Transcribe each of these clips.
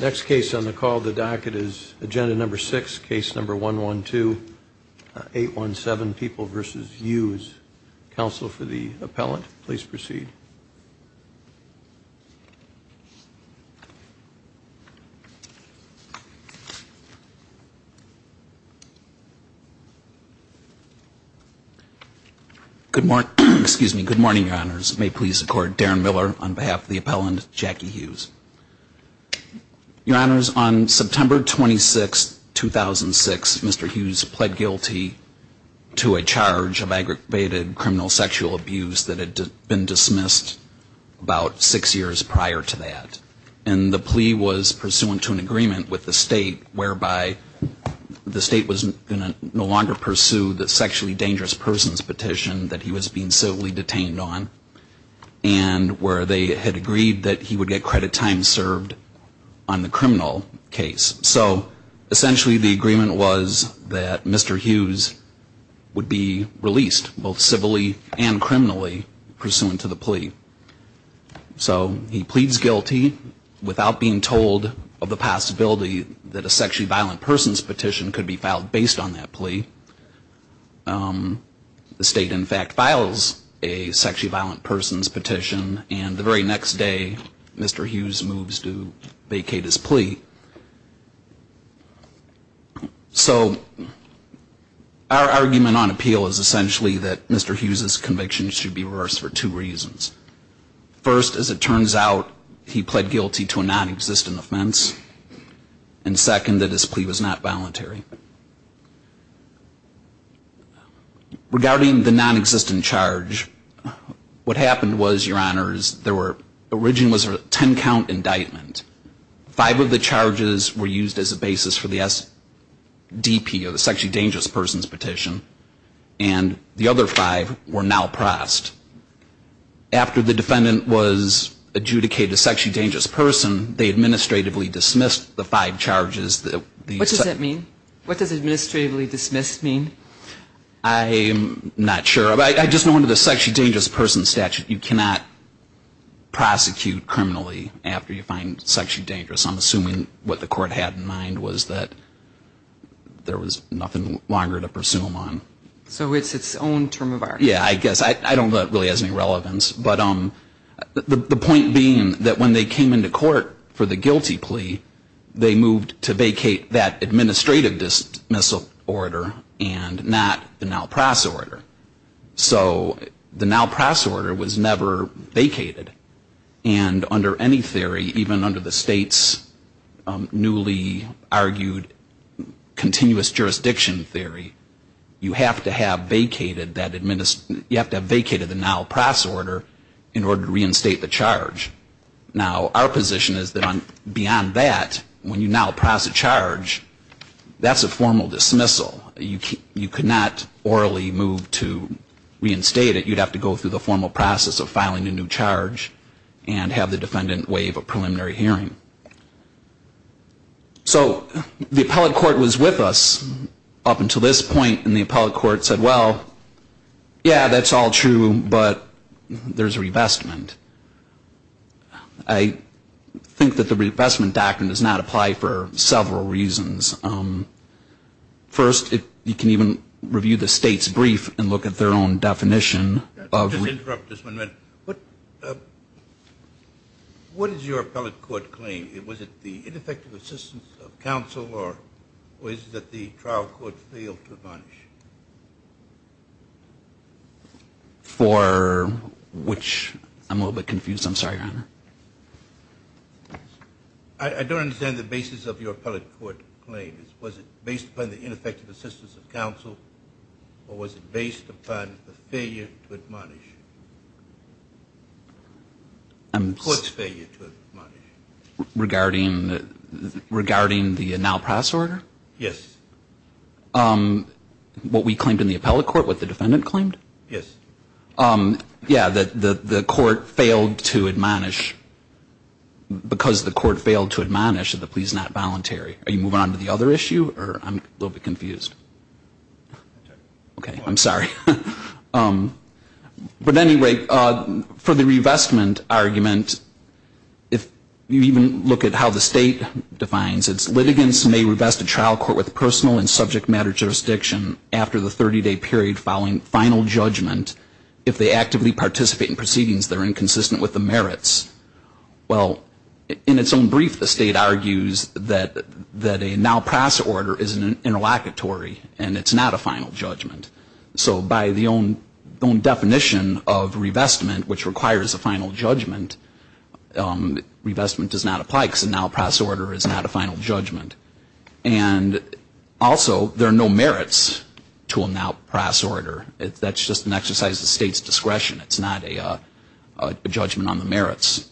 Next case on the call the docket is agenda number six case number one one two eight one seven people versus Hughes. Counsel for the appellant please proceed. Good morning, excuse me, good morning your honors. May please accord Darren Miller on behalf of the appellant Jackie Hughes. Your honors on September 26 2006 Mr. Hughes pled guilty to a charge of aggravated criminal sexual abuse that had been dismissed about six years prior to that and the plea was pursuant to an agreement with the state whereby the state was no longer pursued the sexually dangerous person's petition that he was being civilly detained on and where they had agreed that he would get credit time served on the criminal case. So essentially the agreement was that Mr. Hughes would be released both civilly and criminally pursuant to the plea. So he pleads guilty without being told of the possibility that a sexually violent person's petition could be filed based on that plea. The state in fact files a sexually violent person's petition and the very next day Mr. Hughes moves to vacate his plea. So our argument on appeal is essentially that Mr. Hughes's conviction should be reversed for two reasons. First as it turns out he pled guilty to a non-existent offense and second that his plea was not voluntary. Regarding the non-existent charge what happened was your honors there were originally a ten count indictment. Five of the charges were used as a basis for the SDP or the sexually dangerous person's petition and the other five were now pressed. After the defendant was adjudicated a sexually dangerous person they administratively dismissed the five charges. What does that mean? What does administratively dismissed mean? I'm not sure. I just know under the sexually dangerous person statute you cannot prosecute criminally after you find sexually dangerous. I'm assuming what the court had in mind was that there was nothing longer to pursue him on. So it's its own term of art. Yeah I guess. I don't know if it really has any relevance. But the point being that when they came into court for the guilty plea they moved to vacate that administrative dismissal order and not the NALPRAS order. So the NALPRAS order was never vacated and under any theory even under the state's newly argued continuous jurisdiction theory you have to have vacated that administrative, you have to have vacated the NALPRAS order in order to NALPRAS a charge. That's a formal dismissal. You cannot orally move to reinstate it. You'd have to go through the formal process of filing a new charge and have the defendant waive a preliminary hearing. So the appellate court was with us up until this point and the appellate court said well yeah that's all true but there's a revestment. I think that the revestment doctrine does not apply for several reasons. First, you can even review the state's brief and look at their own definition. Just interrupt this one a minute. What is your appellate court claim? Was it the ineffective assistance of counsel or was it that the trial court failed to admonish? For which I'm a little bit confused. I don't understand the basis of your appellate court claim. Was it based upon the ineffective assistance of counsel or was it based upon the failure to admonish? The court's failure to admonish. Regarding the NALPRAS order? Yes. What we claimed in the appellate court what the defendant claimed? Yes. Yeah, that the voluntary. Are you moving on to the other issue? I'm a little bit confused. Okay, I'm sorry. But anyway, for the revestment argument, if you even look at how the state defines it, litigants may revest a trial court with personal and subject matter jurisdiction after the 30-day period following final judgment if they actively participate in proceedings that are inconsistent with the merits. Well, in its own brief, the state argues that a NALPRAS order is an interlocutory and it's not a final judgment. So by the own definition of revestment, which requires a final judgment, revestment does not apply because a NALPRAS order is not a final judgment. And also, there are no merits to a NALPRAS order. That's just an exercise of the state's discretion. It's not a judgment on the merits.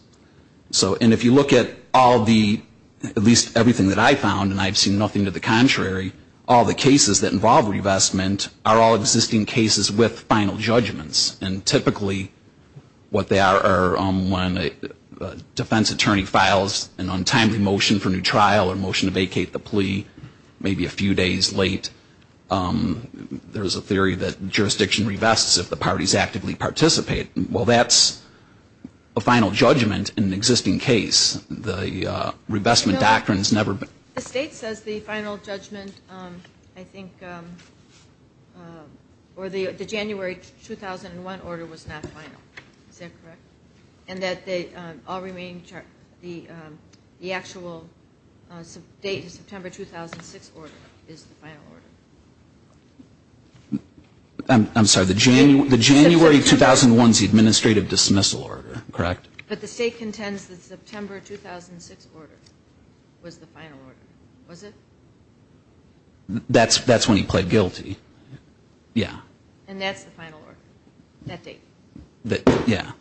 And if you look at all the, at least everything that I found, and I've seen nothing to the contrary, all the cases that involve revestment are all existing cases with final judgments. And typically, what they are, when a defense attorney files an untimely motion for new trial or motion to vacate the plea, maybe a few days late, there's a theory that jurisdiction revests if the parties actively participate. Well, that's a final judgment in an existing case. The revestment doctrine's never been... The state says the final judgment, I think, or the January 2001 order was not final. Is that correct? And that the all remaining, the actual date of September 2006 order is the final order. I'm sorry. The January 2001's the administrative dismissal order, correct? But the state contends the September 2006 order was the final order, was it? That's when he pled guilty. Yeah. And that's the final order, that date? Yeah.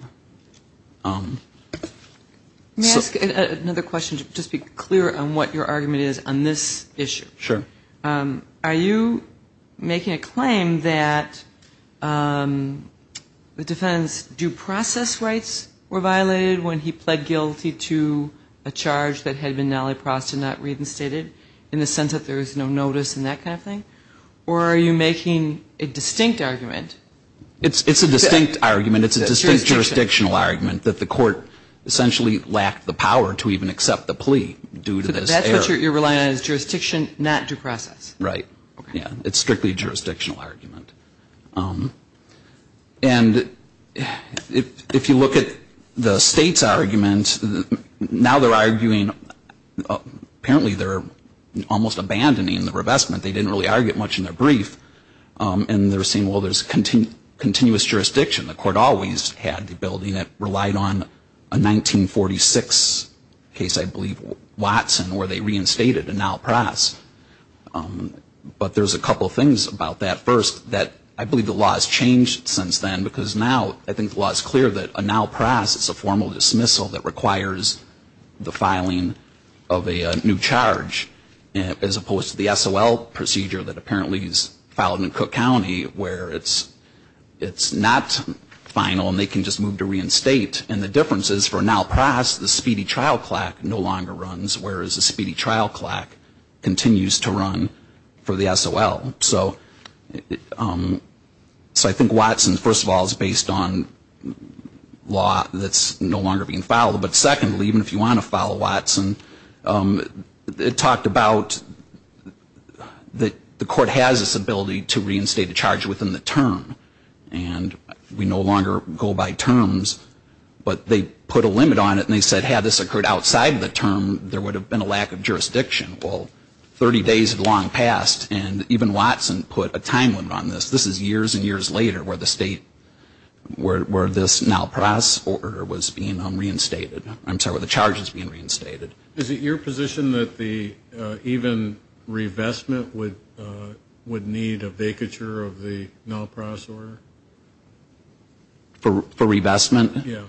May I ask another question? Just be clear on what your argument is on this issue. Sure. Are you making a claim that the defendant's due process rights were violated when he pled guilty to a charge that had been nalliprost and not reinstated in the sense that there was no notice and that kind of thing? Or are you making a distinct argument? It's a distinct argument. It's a distinct jurisdictional argument that the court essentially lacked the power to even accept the plea due to this error. So what you're relying on is jurisdiction, not due process? Right. Yeah. It's strictly a jurisdictional argument. And if you look at the state's argument, now they're arguing, apparently they're almost abandoning the revestment. They didn't really argue it much in their brief. And they're saying, well, there's continuous jurisdiction. The court always had the ability and it relied on a 1946 case, I believe, in Watson where they reinstated a nalliprost. But there's a couple of things about that. First, I believe the law has changed since then because now I think the law is clear that a nalliprost is a formal dismissal that requires the filing of a new charge as opposed to the SOL procedure that apparently is filed in Cook County where it's not final and they can just move to reinstate. And the difference is for nalliprost, the speedy trial clack no longer runs whereas the speedy trial clack continues to run for the SOL. So I think Watson, first of all, is based on law that's no longer being filed. But secondly, even if you want to file Watson, it talked about that the court has this ability to reinstate a charge within the term. And we no longer go by terms. But they put a limit on it and they said had this occurred outside the term, there would have been a lack of jurisdiction. Well, 30 days had long passed and even Watson put a time limit on this. This is years and years later where the state, where this nalliprost order was being reinstated. I'm sorry, where the charge is being reinstated. Is it your position that the even revestment would need a vacature of the nalliprost order? For revestment? Yeah.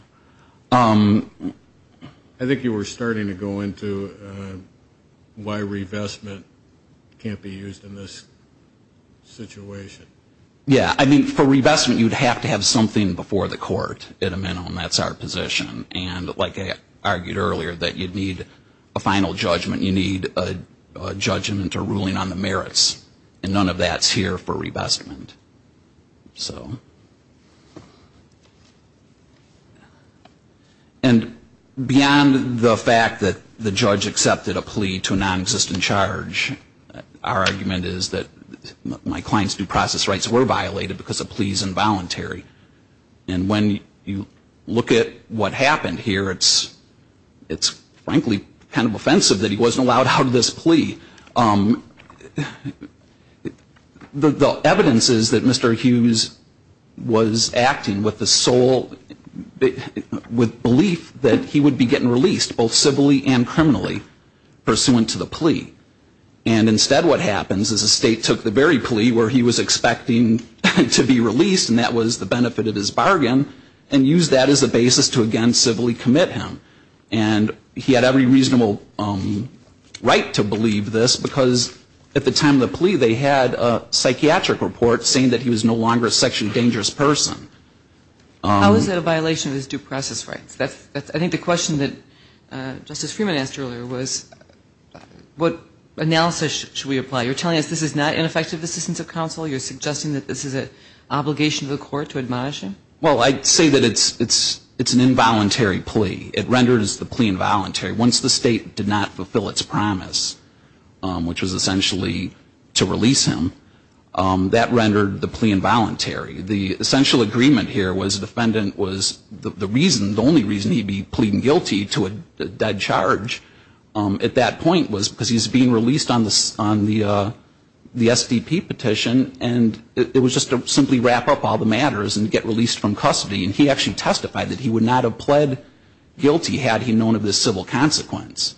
I think you were starting to go into why revestment can't be used in this situation. Yeah. I mean, for revestment, you'd have to have something before the court at a minimum. That's our position. And like I argued earlier, that you'd need a final judgment. You'd need a judgment or ruling on the merits. And none of that's here for revestment. And beyond the fact that the judge accepted a plea to a non-existent charge, our argument is that my client's due process rights were violated because a plea is involuntary. And when you look at what happened here, it's frankly kind of offensive that he wasn't allowed out of this plea. The evidence is that Mr. Hughes was acting with the sole, with belief that he would be getting released, both civilly and criminally, pursuant to the plea. And instead what happens is the state took the very plea where he was expecting to be released, and that was the benefit of his bargain, and used that as a basis to again civilly commit him. And he had every reasonable right to believe this, because at the time of the plea, they had a psychiatric report saying that he was no longer a sexually dangerous person. How is that a violation of his due process rights? I think the question that Justice Freeman asked earlier was what analysis should we apply? You're telling us this is not ineffective assistance of counsel? You're suggesting that this is an obligation to the court to admonish him? Well, I'd say that it's an involuntary plea. It renders the plea involuntary. Once the state did not fulfill its promise, which was essentially to release him, that rendered the plea involuntary. The essential agreement here was the defendant was the reason, the only reason he'd be pleading guilty to a dead charge at that point was because he's being released on the SDP petition, and it was just to simply wrap up all the matters and get released from custody. And he actually testified that he would not have pled guilty had he known of this civil consequence.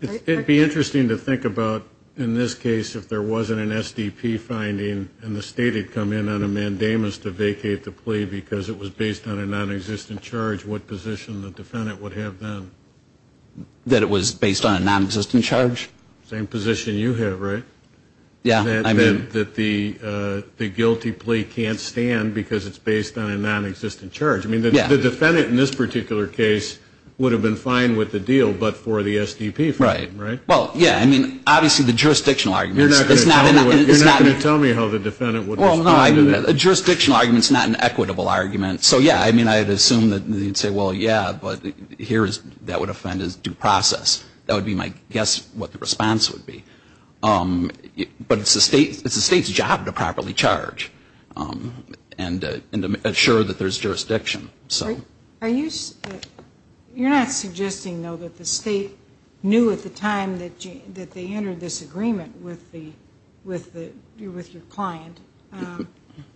It would be interesting to think about in this case if there wasn't an SDP finding and the state had come in on a mandamus to vacate the plea because it was based on a nonexistent charge, what position the defendant would have then? That it was based on a nonexistent charge. Same position you have, right? Yeah. That the guilty plea can't stand because it's based on a nonexistent charge. I mean, the defendant in this particular case would have been fine with the deal but for the SDP finding, right? Well, yeah. I mean, obviously the jurisdictional arguments. You're not going to tell me how the defendant would respond to that. Well, no. A jurisdictional argument is not an equitable argument. So, yeah. I mean, I'd assume that they'd say, well, yeah, but that would offend his due process. That would be my guess what the response would be. But it's the state's job to properly charge and to ensure that there's jurisdiction. You're not suggesting, though, that the state knew at the time that they entered this agreement with your client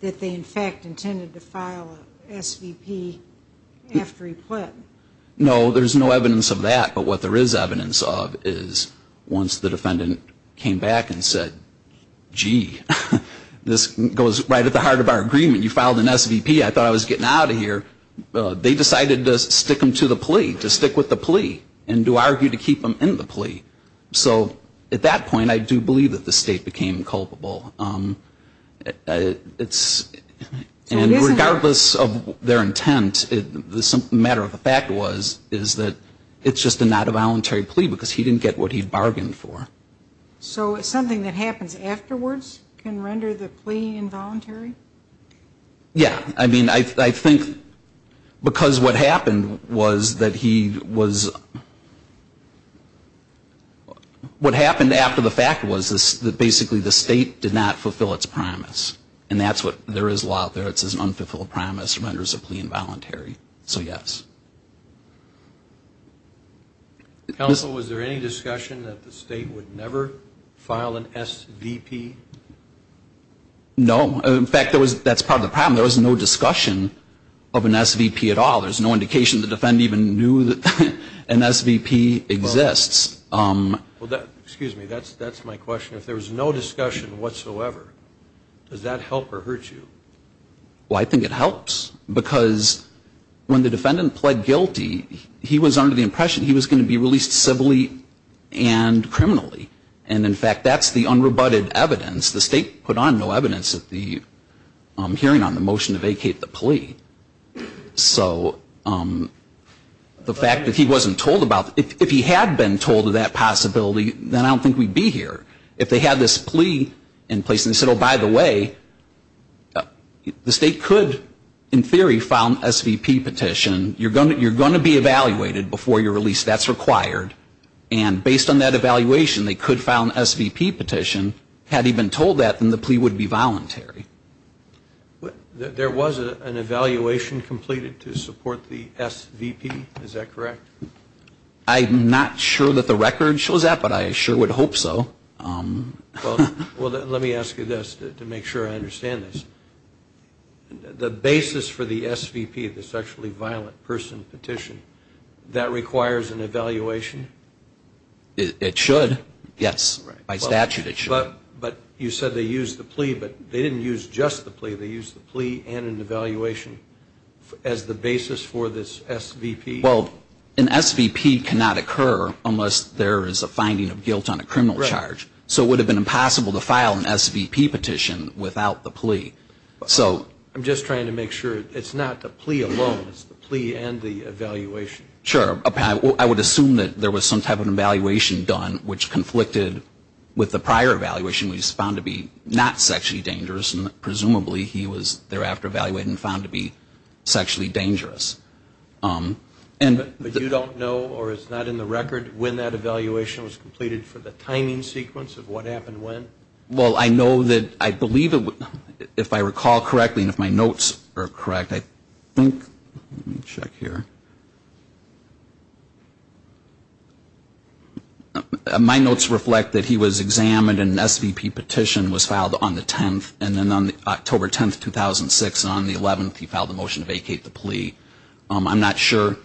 that they, in fact, intended to file an SVP after he pled? No. There's no evidence of that. But what there is evidence of is once the defendant came back and said, gee, this goes right at the heart of our agreement. You filed an SVP. I thought I was getting out of here. They decided to stick him to the plea, to stick with the plea and to argue to keep him in the plea. So, at that point, I do believe that the state became culpable. And regardless of their intent, the matter of the fact was, is that it's just a not a voluntary plea because he didn't get what he bargained for. So, something that happens afterwards can render the plea involuntary? Yeah. I mean, I think because what happened was that he was, what happened after the fact was that basically the state did not fulfill its promise. And that's what, there is law out there that says unfulfilled promise renders a plea involuntary. So, yes. Counsel, was there any discussion that the state would never file an SVP? No. In fact, that's part of the problem. There was no discussion of an SVP at all. There's no indication the defendant even knew that an SVP exists. Well, excuse me. That's my question. If there was no discussion whatsoever, does that help or hurt you? Well, I think it helps. Because when the defendant pled guilty, he was under the impression he was going to be released civilly and criminally. And, in fact, that's the unrebutted evidence. The state put on no evidence at the hearing on the motion to vacate the plea. So the fact that he wasn't told about, if he had been told of that possibility, then I don't think we'd be here. If they had this plea in place and they said, oh, by the way, the state could, in theory, file an SVP petition. You're going to be evaluated before you're released. That's required. And based on that evaluation, they could file an SVP petition. Had he been told that, then the plea would be voluntary. There was an evaluation completed to support the SVP. Is that correct? I'm not sure that the record shows that, but I sure would hope so. Well, let me ask you this to make sure I understand this. The basis for the SVP, the sexually violent person petition, that requires an evaluation? It should. Yes. By statute, it should. But you said they used the plea, but they didn't use just the plea. They used the plea and an evaluation as the basis for this SVP. Well, an SVP cannot occur unless there is a finding of guilt on a criminal charge. So it would have been impossible to file an SVP petition without the plea. I'm just trying to make sure. It's not the plea alone. It's the plea and the evaluation. Sure. I would assume that there was some type of an evaluation done, which conflicted with the prior evaluation, which was found to be not sexually dangerous, and presumably he was thereafter evaluated and found to be sexually dangerous. But you don't know, or it's not in the record, when that evaluation was completed for the timing sequence of what happened when? Well, I know that I believe it would, if I recall correctly, and if my notes are correct, I think. Let me check here. My notes reflect that he was examined and an SVP petition was filed on the 10th, and then on October 10, 2006, on the 11th, he filed a motion to vacate the plea. I'm not sure.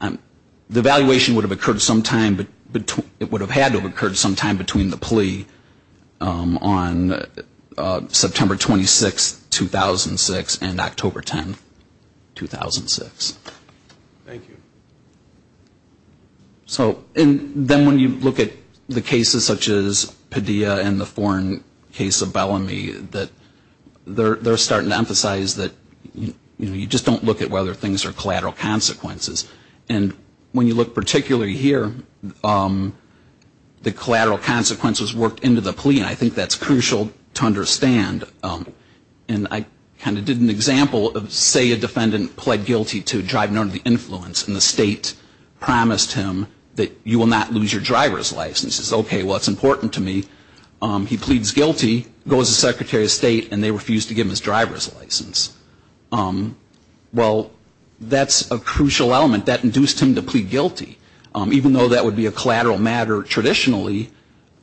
The evaluation would have occurred sometime, but it would have had to have occurred sometime between the plea on September 26, 2006 and October 10, 2006. Thank you. So then when you look at the cases such as Padilla and the foreign case of Bellamy, they're starting to emphasize that you just don't look at whether things are collateral consequences. And when you look particularly here, the collateral consequences worked into the plea, and I think that's crucial to understand. And I kind of did an example of, say, a defendant pled guilty to driving under the influence, and the state promised him that you will not lose your driver's license. He says, okay, well, it's important to me. He pleads guilty, goes to the Secretary of State, and they refuse to give him his driver's license. Well, that's a crucial element. That induced him to plead guilty. Even though that would be a collateral matter traditionally,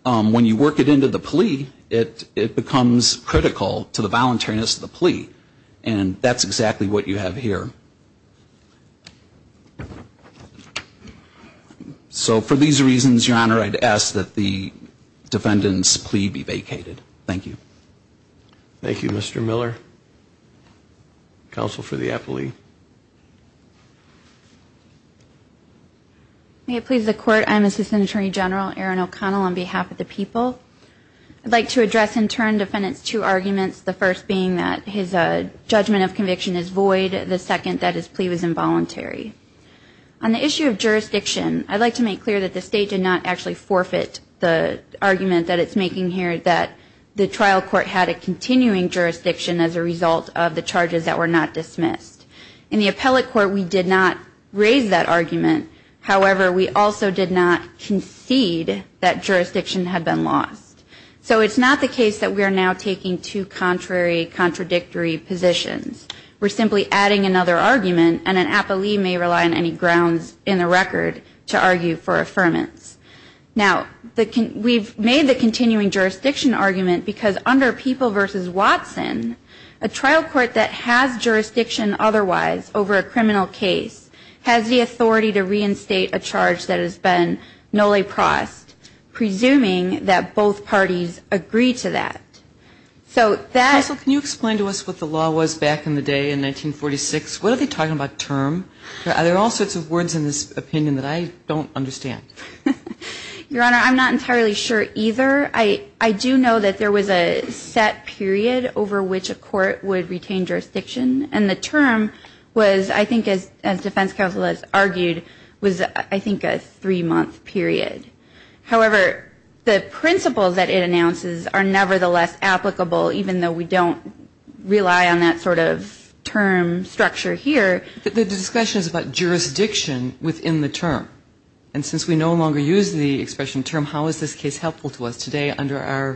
when you work it into the plea, it becomes critical to the voluntariness of the plea. And that's exactly what you have here. So for these reasons, Your Honor, I'd ask that the defendant's plea be vacated. Thank you. Thank you, Mr. Miller. Counsel for the appellee. May it please the Court, I'm Assistant Attorney General Erin O'Connell on behalf of the people. I'd like to address in turn defendant's two arguments, the first being that his judgment of conviction is void, the second that his plea was involuntary. On the issue of jurisdiction, I'd like to make clear that the state did not actually forfeit the argument that it's making here that the trial court had a continuing jurisdiction as a result of the charges that were not dismissed. In the appellate court, we did not raise that argument. However, we also did not concede that jurisdiction had been lost. So it's not the case that we are now taking two contrary, contradictory positions. We're simply adding another argument, and an appellee may rely on any grounds in the record to argue for affirmance. Now, we've made the continuing jurisdiction argument because under People v. Watson, a trial court that has jurisdiction otherwise over a criminal case has the authority to reinstate a charge that has been nulliprost, presuming that both parties agree to that. So that ---- Counsel, can you explain to us what the law was back in the day in 1946? What are they talking about term? There are all sorts of words in this opinion that I don't understand. Your Honor, I'm not entirely sure either. I do know that there was a set period over which a court would retain jurisdiction, and the term was, I think, as defense counsel has argued, was I think a three-month period. However, the principles that it announces are nevertheless applicable, even though we don't rely on that sort of term structure here. But the discussion is about jurisdiction within the term. And since we no longer use the expression term, how is this case helpful to us today under our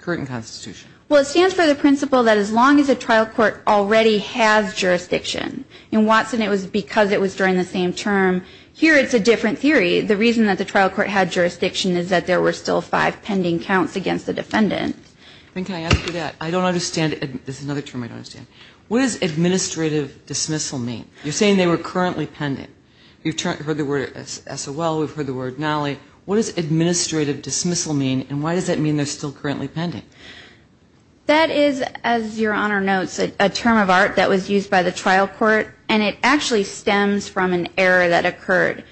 current constitution? Well, it stands for the principle that as long as a trial court already has jurisdiction, in Watson it was because it was during the same term. Here it's a different theory. The reason that the trial court had jurisdiction is that there were still five pending counts against the defendant. Then can I ask you that? I don't understand ---- This is another term I don't understand. What does administrative dismissal mean? You're saying they were currently pending. You've heard the word SOL. We've heard the word nulli. What does administrative dismissal mean, and why does that mean they're still currently pending? That is, as Your Honor notes, a term of art that was used by the trial court, and it actually stems from an error that occurred.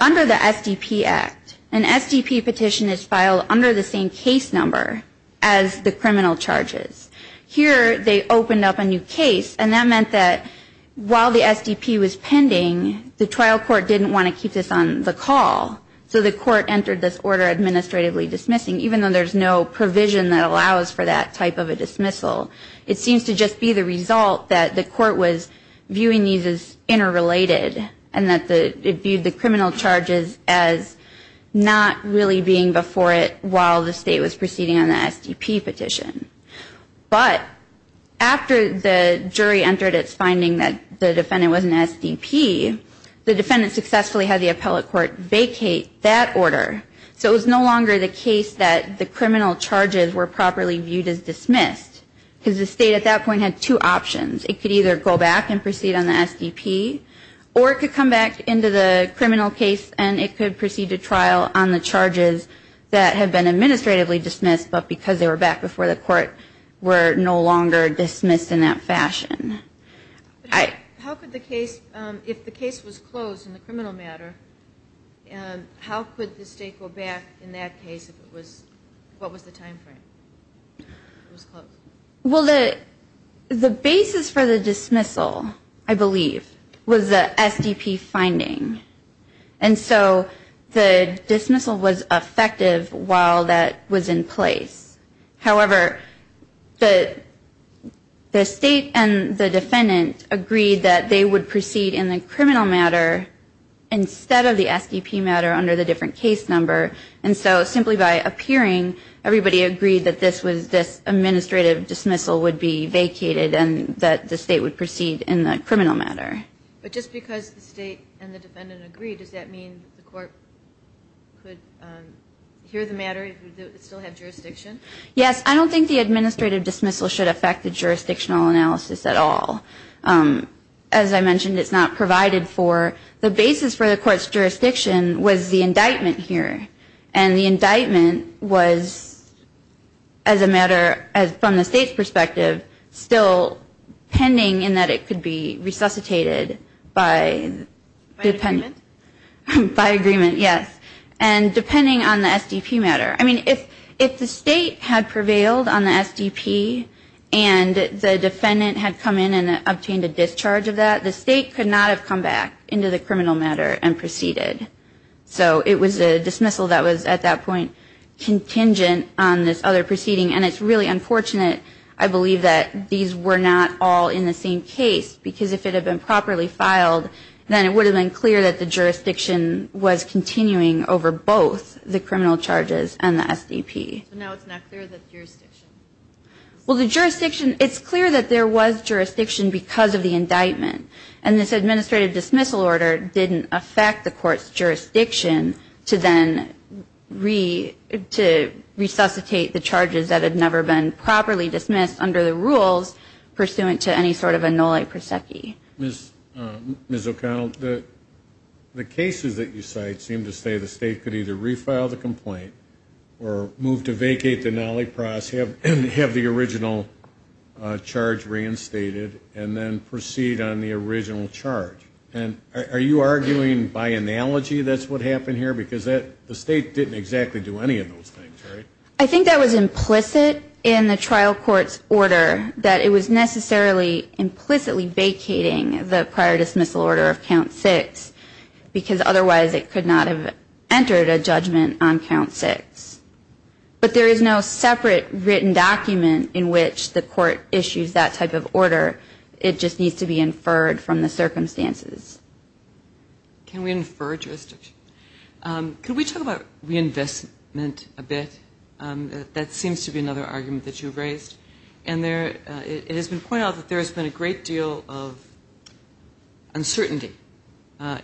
Under the SDP Act, an SDP petition is filed under the same case number as the criminal charges. Here they opened up a new case, and that meant that while the SDP was pending, the trial court didn't want to keep this on the call. So the court entered this order administratively dismissing, even though there's no provision that allows for that type of a dismissal. It seems to just be the result that the court was viewing these as interrelated and that it viewed the criminal charges as not really being before it while the State was proceeding on the SDP petition. But after the jury entered its finding that the defendant was an SDP, the defendant successfully had the appellate court vacate that order. So it was no longer the case that the criminal charges were properly viewed as dismissed, because the State at that point had two options. It could either go back and proceed on the SDP, or it could come back into the criminal case and it could proceed to trial on the charges that had been administratively dismissed, but because they were back before the court were no longer dismissed in that fashion. How could the case, if the case was closed in the criminal matter, how could the State go back in that case if it was, what was the time frame? Well, the basis for the dismissal, I believe, was the SDP finding. And so the dismissal was effective while that was in place. However, the State and the defendant agreed that they would proceed in the criminal matter instead of the SDP matter under the different case number. And so simply by appearing, everybody agreed that this was this administrative dismissal would be vacated and that the State would proceed in the criminal matter. But just because the State and the defendant agreed, does that mean the court could hear the matter if it still had jurisdiction? Yes. I don't think the administrative dismissal should affect the jurisdictional analysis at all. As I mentioned, it's not provided for. The basis for the court's jurisdiction was the indictment here. And the indictment was, as a matter from the State's perspective, still pending in that it could be resuscitated by the defendant. By agreement? By agreement, yes. And depending on the SDP matter. I mean, if the State had prevailed on the SDP and the defendant had come in and obtained a discharge of that, the State could not have come back into the criminal matter and proceeded. So it was a dismissal that was at that point contingent on this other proceeding. And it's really unfortunate, I believe, that these were not all in the same case. Because if it had been properly filed, then it would have been clear that the jurisdiction was continuing over both the criminal charges and the SDP. So now it's not clear that there's jurisdiction. Well, the jurisdiction, it's clear that there was jurisdiction because of the indictment. jurisdiction to then resuscitate the charges that had never been properly dismissed under the rules, pursuant to any sort of a nulla prosecuit. Ms. O'Connell, the cases that you cite seem to say the State could either refile the complaint or move to vacate the nulli pros, have the original charge reinstated, and then proceed on the original charge. And are you arguing by analogy that's what happened here? Because the State didn't exactly do any of those things, right? I think that was implicit in the trial court's order, that it was necessarily implicitly vacating the prior dismissal order of Count 6, because otherwise it could not have entered a judgment on Count 6. But there is no separate written document in which the court issues that type of order. It just needs to be inferred from the circumstances. Can we infer jurisdiction? Could we talk about reinvestment a bit? That seems to be another argument that you raised. And it has been pointed out that there has been a great deal of uncertainty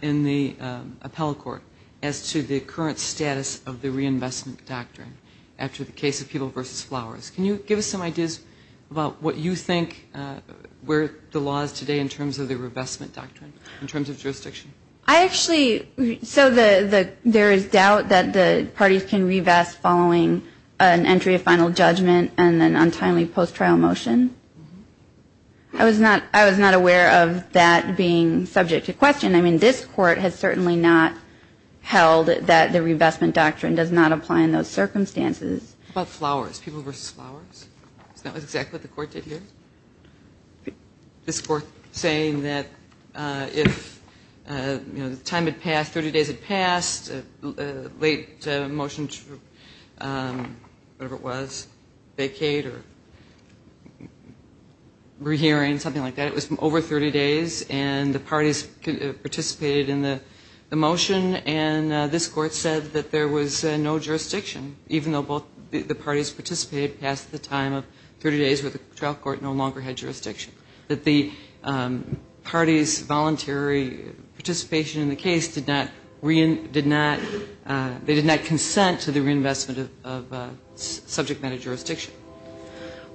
in the appellate court as to the current status of the reinvestment doctrine after the case of People v. Flowers. Can you give us some ideas about what you think were the laws today in terms of the reinvestment doctrine, in terms of jurisdiction? I actually – so there is doubt that the parties can reinvest following an entry of final judgment and an untimely post-trial motion. I was not aware of that being subject to question. I mean, this Court has certainly not held that the reinvestment doctrine does not apply in those circumstances. How about Flowers, People v. Flowers? Isn't that exactly what the Court did here? This Court saying that if, you know, the time had passed, 30 days had passed, a late motion to whatever it was, vacate or rehearing, something like that. It was over 30 days, and the parties participated in the motion, and this Court said that there was no jurisdiction, even though both the parties participated past the time of 30 days where the trial court no longer had jurisdiction, that the parties' voluntary participation in the case did not – they did not consent to the reinvestment of subject matter jurisdiction.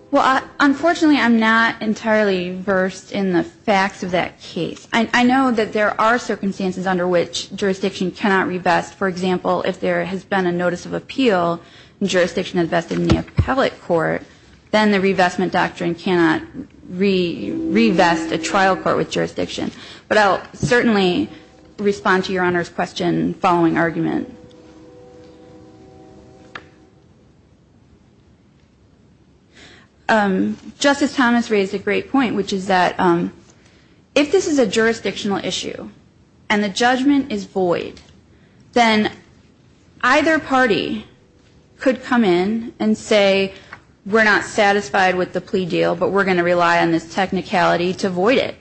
Well, unfortunately, I'm not entirely versed in the facts of that case. I know that there are circumstances under which jurisdiction cannot revest. For example, if there has been a notice of appeal, and jurisdiction had vested in the appellate court, then the reinvestment doctrine cannot revest a trial court with jurisdiction. But I'll certainly respond to Your Honor's question following argument. Justice Thomas raised a great point, which is that if this is a jurisdictional issue and the judgment is void, then either party could come in and say, we're not satisfied with the plea deal, but we're going to rely on this technicality to void it.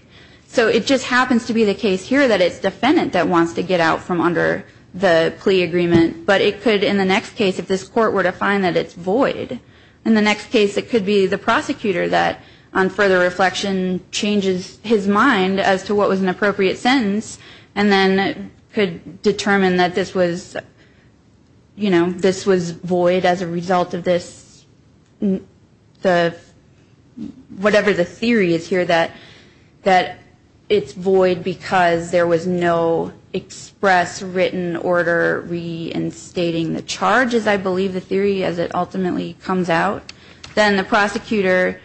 So it just happens to be the case here that it's defendant that wants to get out from under the plea agreement, but it could, in the next case, if this court were to find that it's void, in the next case it could be the prosecutor that, on further reflection, changes his mind as to what was an appropriate sentence, and then could determine that this was, you know, this was void as a result of this – whatever the theory is here, that it's void because there was no express written order reinstating the charge, as I believe the theory, as it ultimately comes out. Then the prosecutor,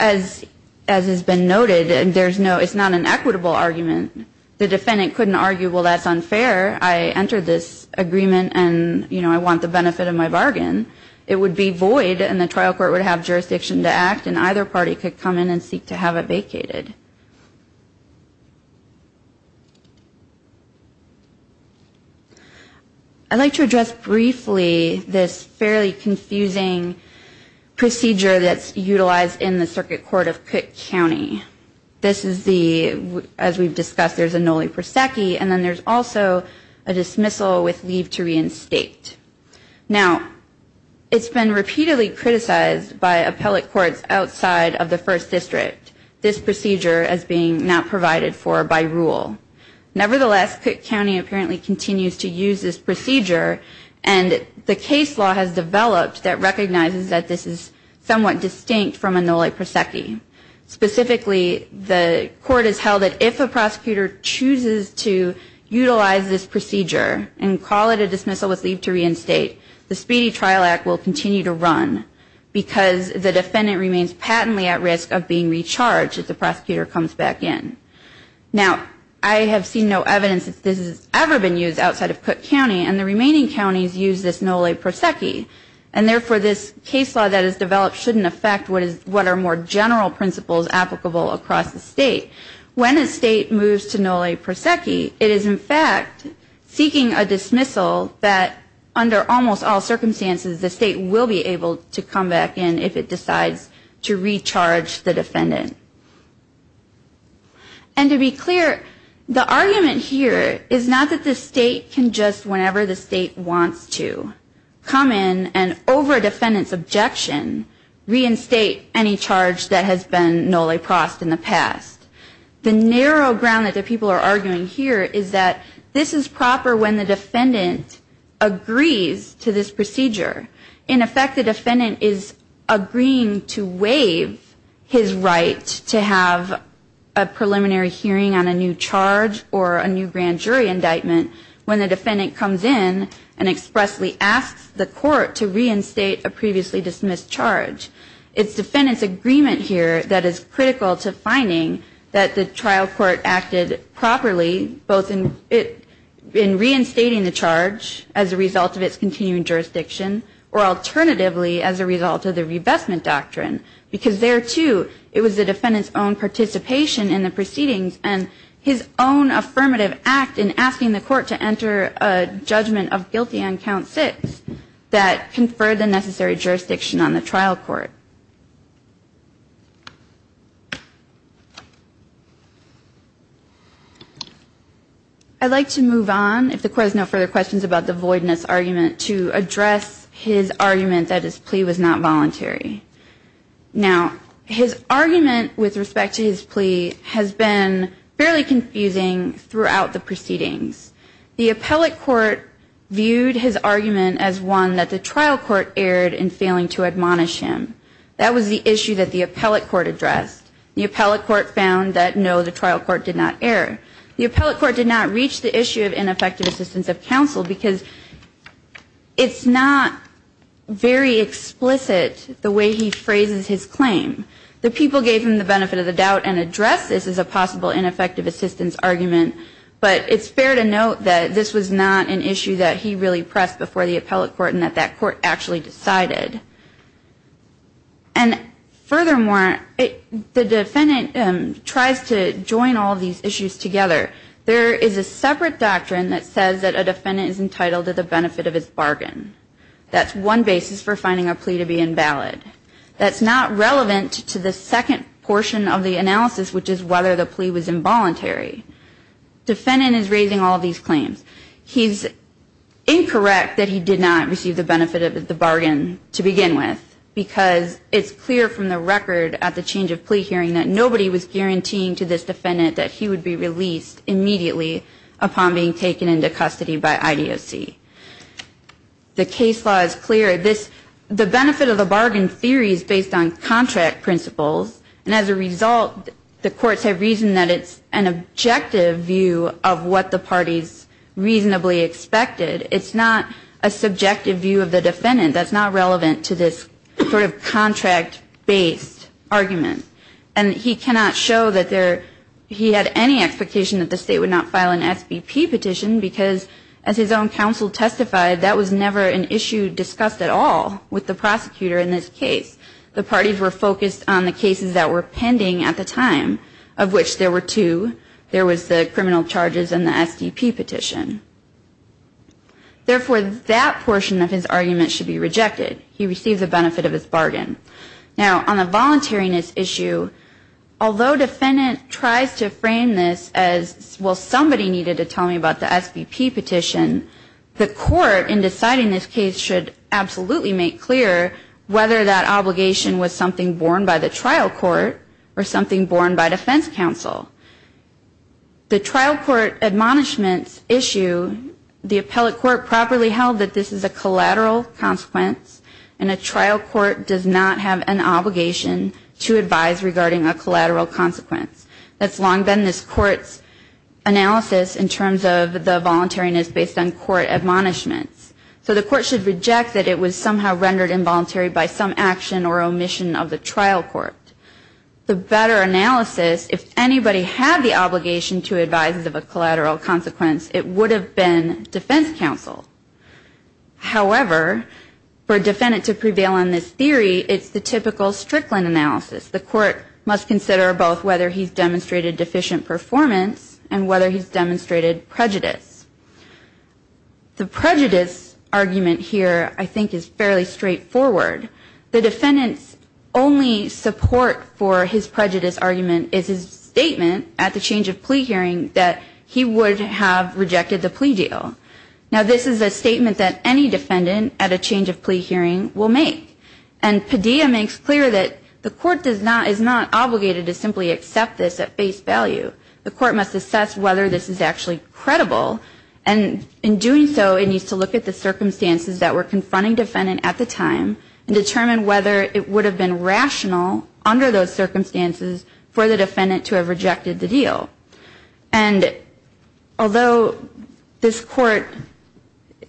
as has been noted, there's no – it's not an equitable argument. The defendant couldn't argue, well, that's unfair. I entered this agreement, and, you know, I want the benefit of my bargain. It would be void, and the trial court would have jurisdiction to act, and either party could come in and seek to have it vacated. I'd like to address briefly this fairly confusing procedure that's utilized in the circuit court of Cook County. This is the – as we've discussed, there's a nulli prosecchi, and then there's also a dismissal with leave to reinstate. Now, it's been repeatedly criticized by appellate courts outside of the First District, this procedure as being not provided for by rule. Nevertheless, Cook County apparently continues to use this procedure, and the case law has developed that recognizes that this is somewhat distinct from a nulli prosecchi. Specifically, the court has held that if a prosecutor chooses to utilize this procedure and call it a dismissal with leave to reinstate, the Speedy Trial Act will continue to run because the defendant remains patently at risk of being recharged if the prosecutor comes back in. Now, I have seen no evidence that this has ever been used outside of Cook County, and the remaining counties use this nulli prosecchi, and therefore this case law that has developed shouldn't affect what are more general principles applicable across the state. When a state moves to nulli prosecchi, it is in fact seeking a dismissal that, under almost all circumstances, the state will be able to come back in if it decides to recharge the defendant. And to be clear, the argument here is not that the state can just, whenever the state wants to, come in and, over a defendant's objection, reinstate any charge that has been nulli prosecchi in the past. The narrow ground that the people are arguing here is that this is proper when the defendant agrees to this procedure. In effect, the defendant is agreeing to waive his right to have a preliminary hearing on a new charge or a new grand jury indictment when the defendant comes in and expressly asks the court to reinstate a previously dismissed charge. It's defendant's agreement here that is critical to finding that the trial court acted properly, both in reinstating the charge as a result of its continuing jurisdiction, or alternatively as a result of the revestment doctrine, because there, too, it was the defendant's own participation in the proceedings and his own affirmative act in asking the court to enter a judgment of guilty on Count 6 that conferred the necessary jurisdiction on the trial court. I'd like to move on, if the Court has no further questions about the voidness argument, to address his argument that his plea was not voluntary. Now, his argument with respect to his plea has been fairly confusing throughout the proceedings. The appellate court viewed his argument as one that the trial court erred in failing to admonish him. That was the issue that the appellate court addressed. The appellate court found that, no, the trial court did not err. The appellate court did not reach the issue of ineffective assistance of counsel because it's not very explicit the way he phrases his claim. The people gave him the benefit of the doubt and addressed this as a possible ineffective assistance argument, but it's fair to note that this was not an issue that he really pressed before the appellate court and that that court actually decided. And furthermore, the defendant tries to join all these issues together. There is a separate doctrine that says that a defendant is entitled to the benefit of his bargain. That's one basis for finding a plea to be invalid. That's not relevant to the second portion of the analysis, which is whether the plea was involuntary. Defendant is raising all these claims. He's incorrect that he did not receive the benefit of the bargain to begin with because it's clear from the record at the change of plea hearing that nobody was guaranteeing to this defendant that he would be released immediately upon being taken into custody by IDOC. The case law is clear. The benefit of the bargain theory is based on contract principles, and as a result, the courts have reasoned that it's an objective view of what the parties reasonably expected. It's not a subjective view of the defendant that's not relevant to this sort of contract-based argument. And he cannot show that he had any expectation that the State would not file an SBP petition because as his own counsel testified, that was never an issue discussed at all with the prosecutor in this case. The parties were focused on the cases that were pending at the time, of which there were two. There was the criminal charges and the SDP petition. Therefore, that portion of his argument should be rejected. He received the benefit of his bargain. Now, on the voluntariness issue, although defendant tries to frame this as, well, somebody needed to tell me about the SBP petition, the court in deciding this case should absolutely make clear whether that obligation was something borne by the trial court or something borne by defense counsel. The trial court admonishments issue, the appellate court properly held that this is a collateral consequence, and a trial court does not have an obligation to advise regarding a collateral consequence. That's long been this court's analysis in terms of the voluntariness based on court admonishments. So the court should reject that it was somehow rendered involuntary by some action or omission of the trial court. The better analysis, if anybody had the obligation to advise of a collateral consequence, it would have been defense counsel. However, for a defendant to prevail on this theory, it's the typical Strickland analysis. The court must consider both whether he's demonstrated deficient performance and whether he's demonstrated prejudice. The prejudice argument here, I think, is fairly straightforward. The defendant's only support for his prejudice argument is his statement at the change of plea hearing that he would have rejected the plea deal. Now, this is a statement that any defendant at a change of plea hearing will make. And Padilla makes clear that the court is not obligated to simply accept this at face value. The court must assess whether this is actually credible, and in doing so, it needs to look at the circumstances that were confronting defendant at the time and determine whether it would have been rational under those circumstances for the defendant to have rejected the deal. And although this court,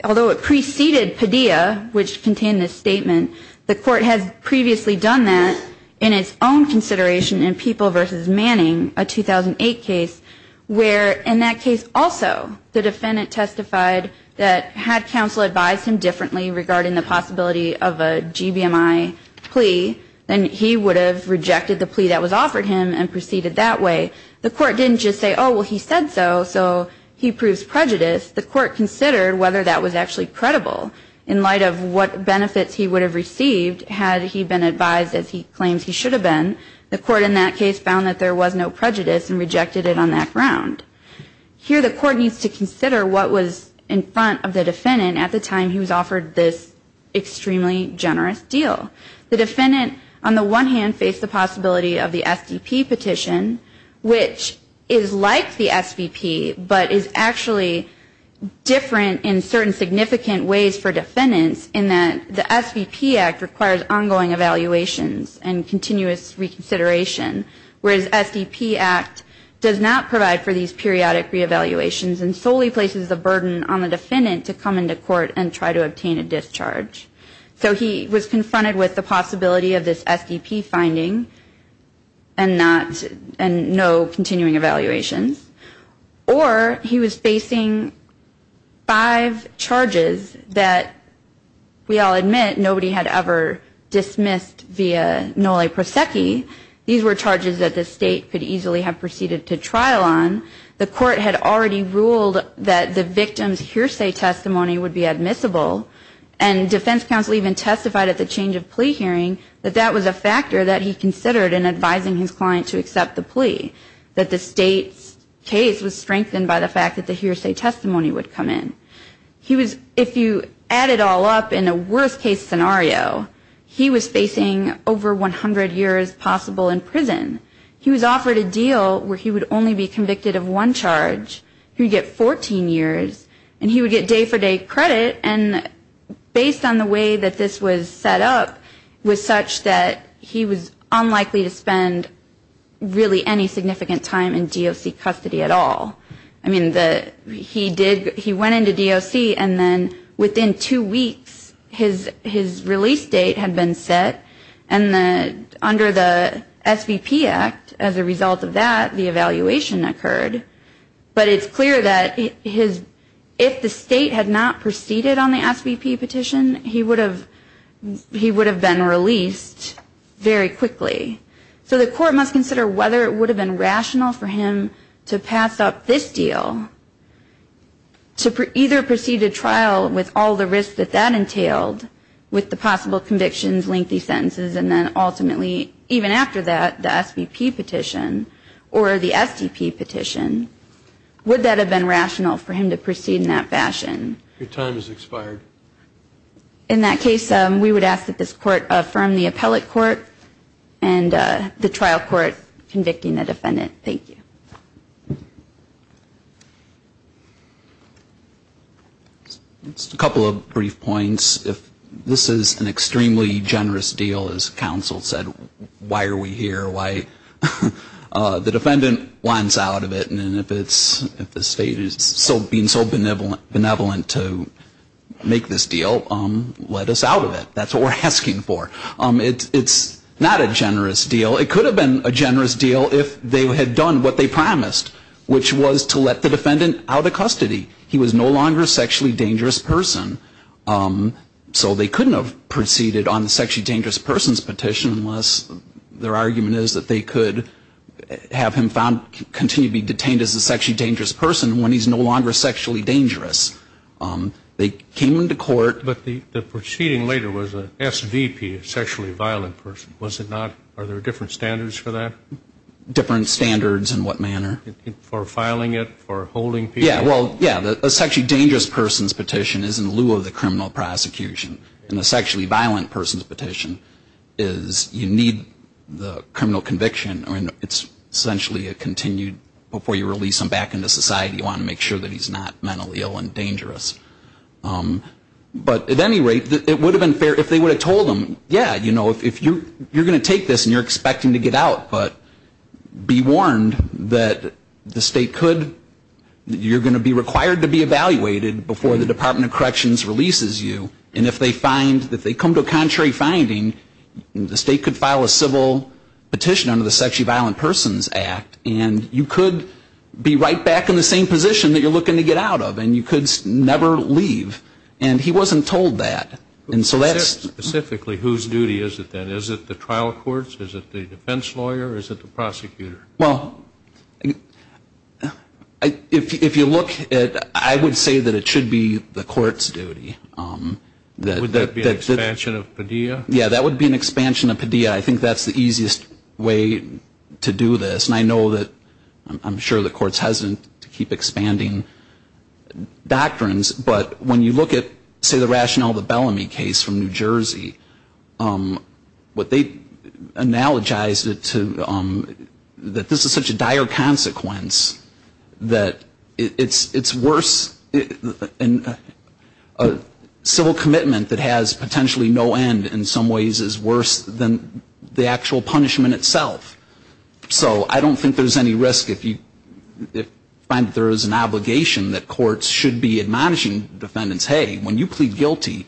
although it preceded Padilla, which contained this statement, the court has previously done that in its own consideration in People v. Manning, a 2008 case, where in that case also the defendant testified that had counsel advised him differently regarding the possibility of a GBMI plea, then he would have rejected the plea that was offered him and proceeded that way. The court didn't just say, oh, well, he said so, so he proves prejudice. The court considered whether that was actually credible in light of what benefits he would have received had he been advised as he claims he should have been. The court in that case found that there was no prejudice and rejected it on that ground. Here the court needs to consider what was in front of the defendant at the time he was offered this extremely generous deal. The defendant, on the one hand, faced the possibility of the SDP petition, which is like the SVP, but is actually different in certain significant ways for defendants in that the SVP Act requires ongoing evaluations and continuous reconsideration, whereas the SDP Act does not provide for these periodic re-evaluations and solely places the burden on the defendant to come into court and try to obtain a discharge. So he was confronted with the possibility of this SDP finding and no continuing evaluations, or he was facing five charges that, we all admit, nobody had ever dismissed via nulla prosecco. These were charges that the state could easily have proceeded to trial on. The court had already ruled that the victim's hearsay testimony would be admissible, and defense counsel even testified at the change of plea hearing that that was a factor that he considered in advising his client to accept the plea, that the state's case was strengthened by the fact that the hearsay testimony would come in. If you add it all up in a worst-case scenario, he was facing over 100 years possible in prison. He was offered a deal where he would only be convicted of one charge. He would get 14 years, and he would get day-for-day credit, and based on the way that this was set up, it was such that he was unlikely to spend really any significant time in DOC custody at all. I mean, he went into DOC, and then within two weeks his release date had been set, and under the SVP Act, as a result of that, the evaluation occurred. But it's clear that if the state had not proceeded on the SVP petition, he would have been released very quickly. So the court must consider whether it would have been rational for him to pass up this deal to either proceed to trial with all the risks that that entailed, with the possible convictions, lengthy sentences, and then ultimately, even after that, the SVP petition or the STP petition. Would that have been rational for him to proceed in that fashion? In that case, we would ask that this court affirm the appellate court and the trial court convicting the defendant. Thank you. A couple of brief points. If this is an extremely generous deal, as counsel said, why are we here? Why? The defendant wants out of it, and if the state is being so benevolent to make this deal, let us out of it. That's what we're asking for. It's not a generous deal. It could have been a generous deal if they had done what they promised, which was to let the defendant out of custody. He was no longer a sexually dangerous person. So they couldn't have proceeded on the sexually dangerous person's petition unless their argument is that they could have him found, continue to be detained as a sexually dangerous person when he's no longer sexually dangerous. They came into court. But the proceeding later was an SVP, a sexually violent person. Was it not? Are there different standards for that? Different standards in what manner? For filing it, for holding people? Yeah, well, yeah, the sexually dangerous person's petition is in lieu of the criminal prosecution, and the sexually violent person's petition is you need the criminal conviction. I mean, it's essentially a continued, before you release him back into society, you want to make sure that he's not mentally ill and dangerous. But at any rate, it would have been fair if they would have told him, yeah, you know, if you're going to take this and you're expecting to get out, but be warned that the state could, you're going to be required to be evaluated before the Department of Corrections releases you. And if they find, if they come to a contrary finding, the state could file a civil petition under the Sexually Violent Persons Act, and you could be right back in the same position that you're looking to get out of, and you could never leave. And he wasn't told that. Specifically whose duty is it, then? Is it the trial courts, is it the defense lawyer, or is it the prosecutor? Well, if you look at, I would say that it should be the court's duty. Would that be an expansion of PDEA? I think that's the easiest way to do this. And I know that I'm sure the court's hesitant to keep expanding doctrines, but when you look at, say, the rationale of the Bellamy case from New Jersey, what they analogized it to, that this is such a dire consequence that it's worse, and civil commitment that has potentially no end in some ways is worse than the actual punishment itself. So I don't think there's any risk if you find that there is an obligation that courts should be admonishing defendants, hey, when you plead guilty,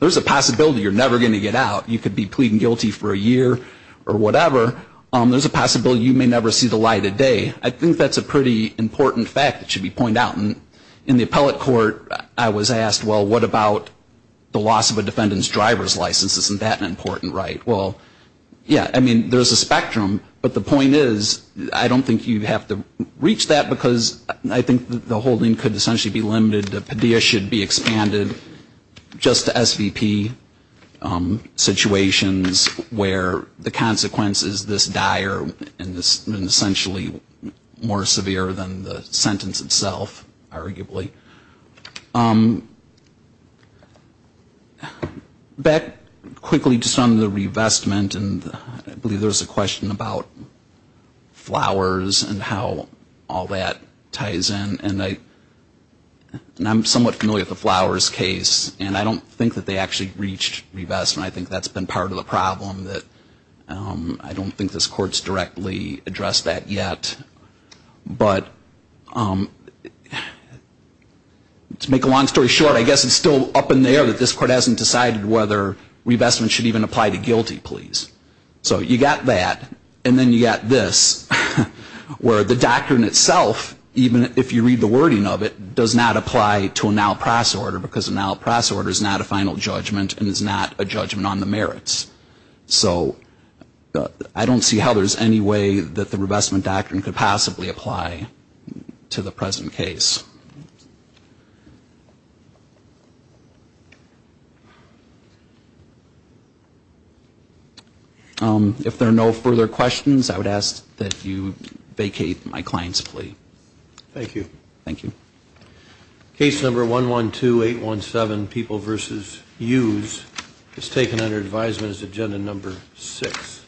there's a possibility you're never going to get out. You could be pleading guilty for a year or whatever. There's a possibility you may never see the light of day. I think that's a pretty important fact that should be pointed out. And in the appellate court, I was asked, well, what about the loss of a defendant's driver's license? Isn't that an important right? Well, yeah, I mean, there's a spectrum. But the point is, I don't think you have to reach that, because I think the holding could essentially be limited that Padilla should be expanded just to SVP situations where the consequence is this dire, and essentially more severe than the sentence itself, arguably. Back quickly just on the revestment, and I believe there was a question about flowers and how all that ties in. And I'm somewhat familiar with the flowers case, and I don't think that they actually reached revestment. I think that's been part of the problem, that I don't think this court's directly addressed that yet. But to make a long story short, I guess it's still up in the air that this court hasn't decided whether revestment should even apply to guilty pleas. So you've got that, and then you've got this, where the doctrine itself, even if you read the wording of it, does not apply to a now-pass order, because a now-pass order is not a final judgment, so I don't see how there's any way that the revestment doctrine could possibly apply to the present case. If there are no further questions, I would ask that you vacate my client's plea. Thank you. Case number 112817, People v. Hughes, is taken under advisement as agenda number 6.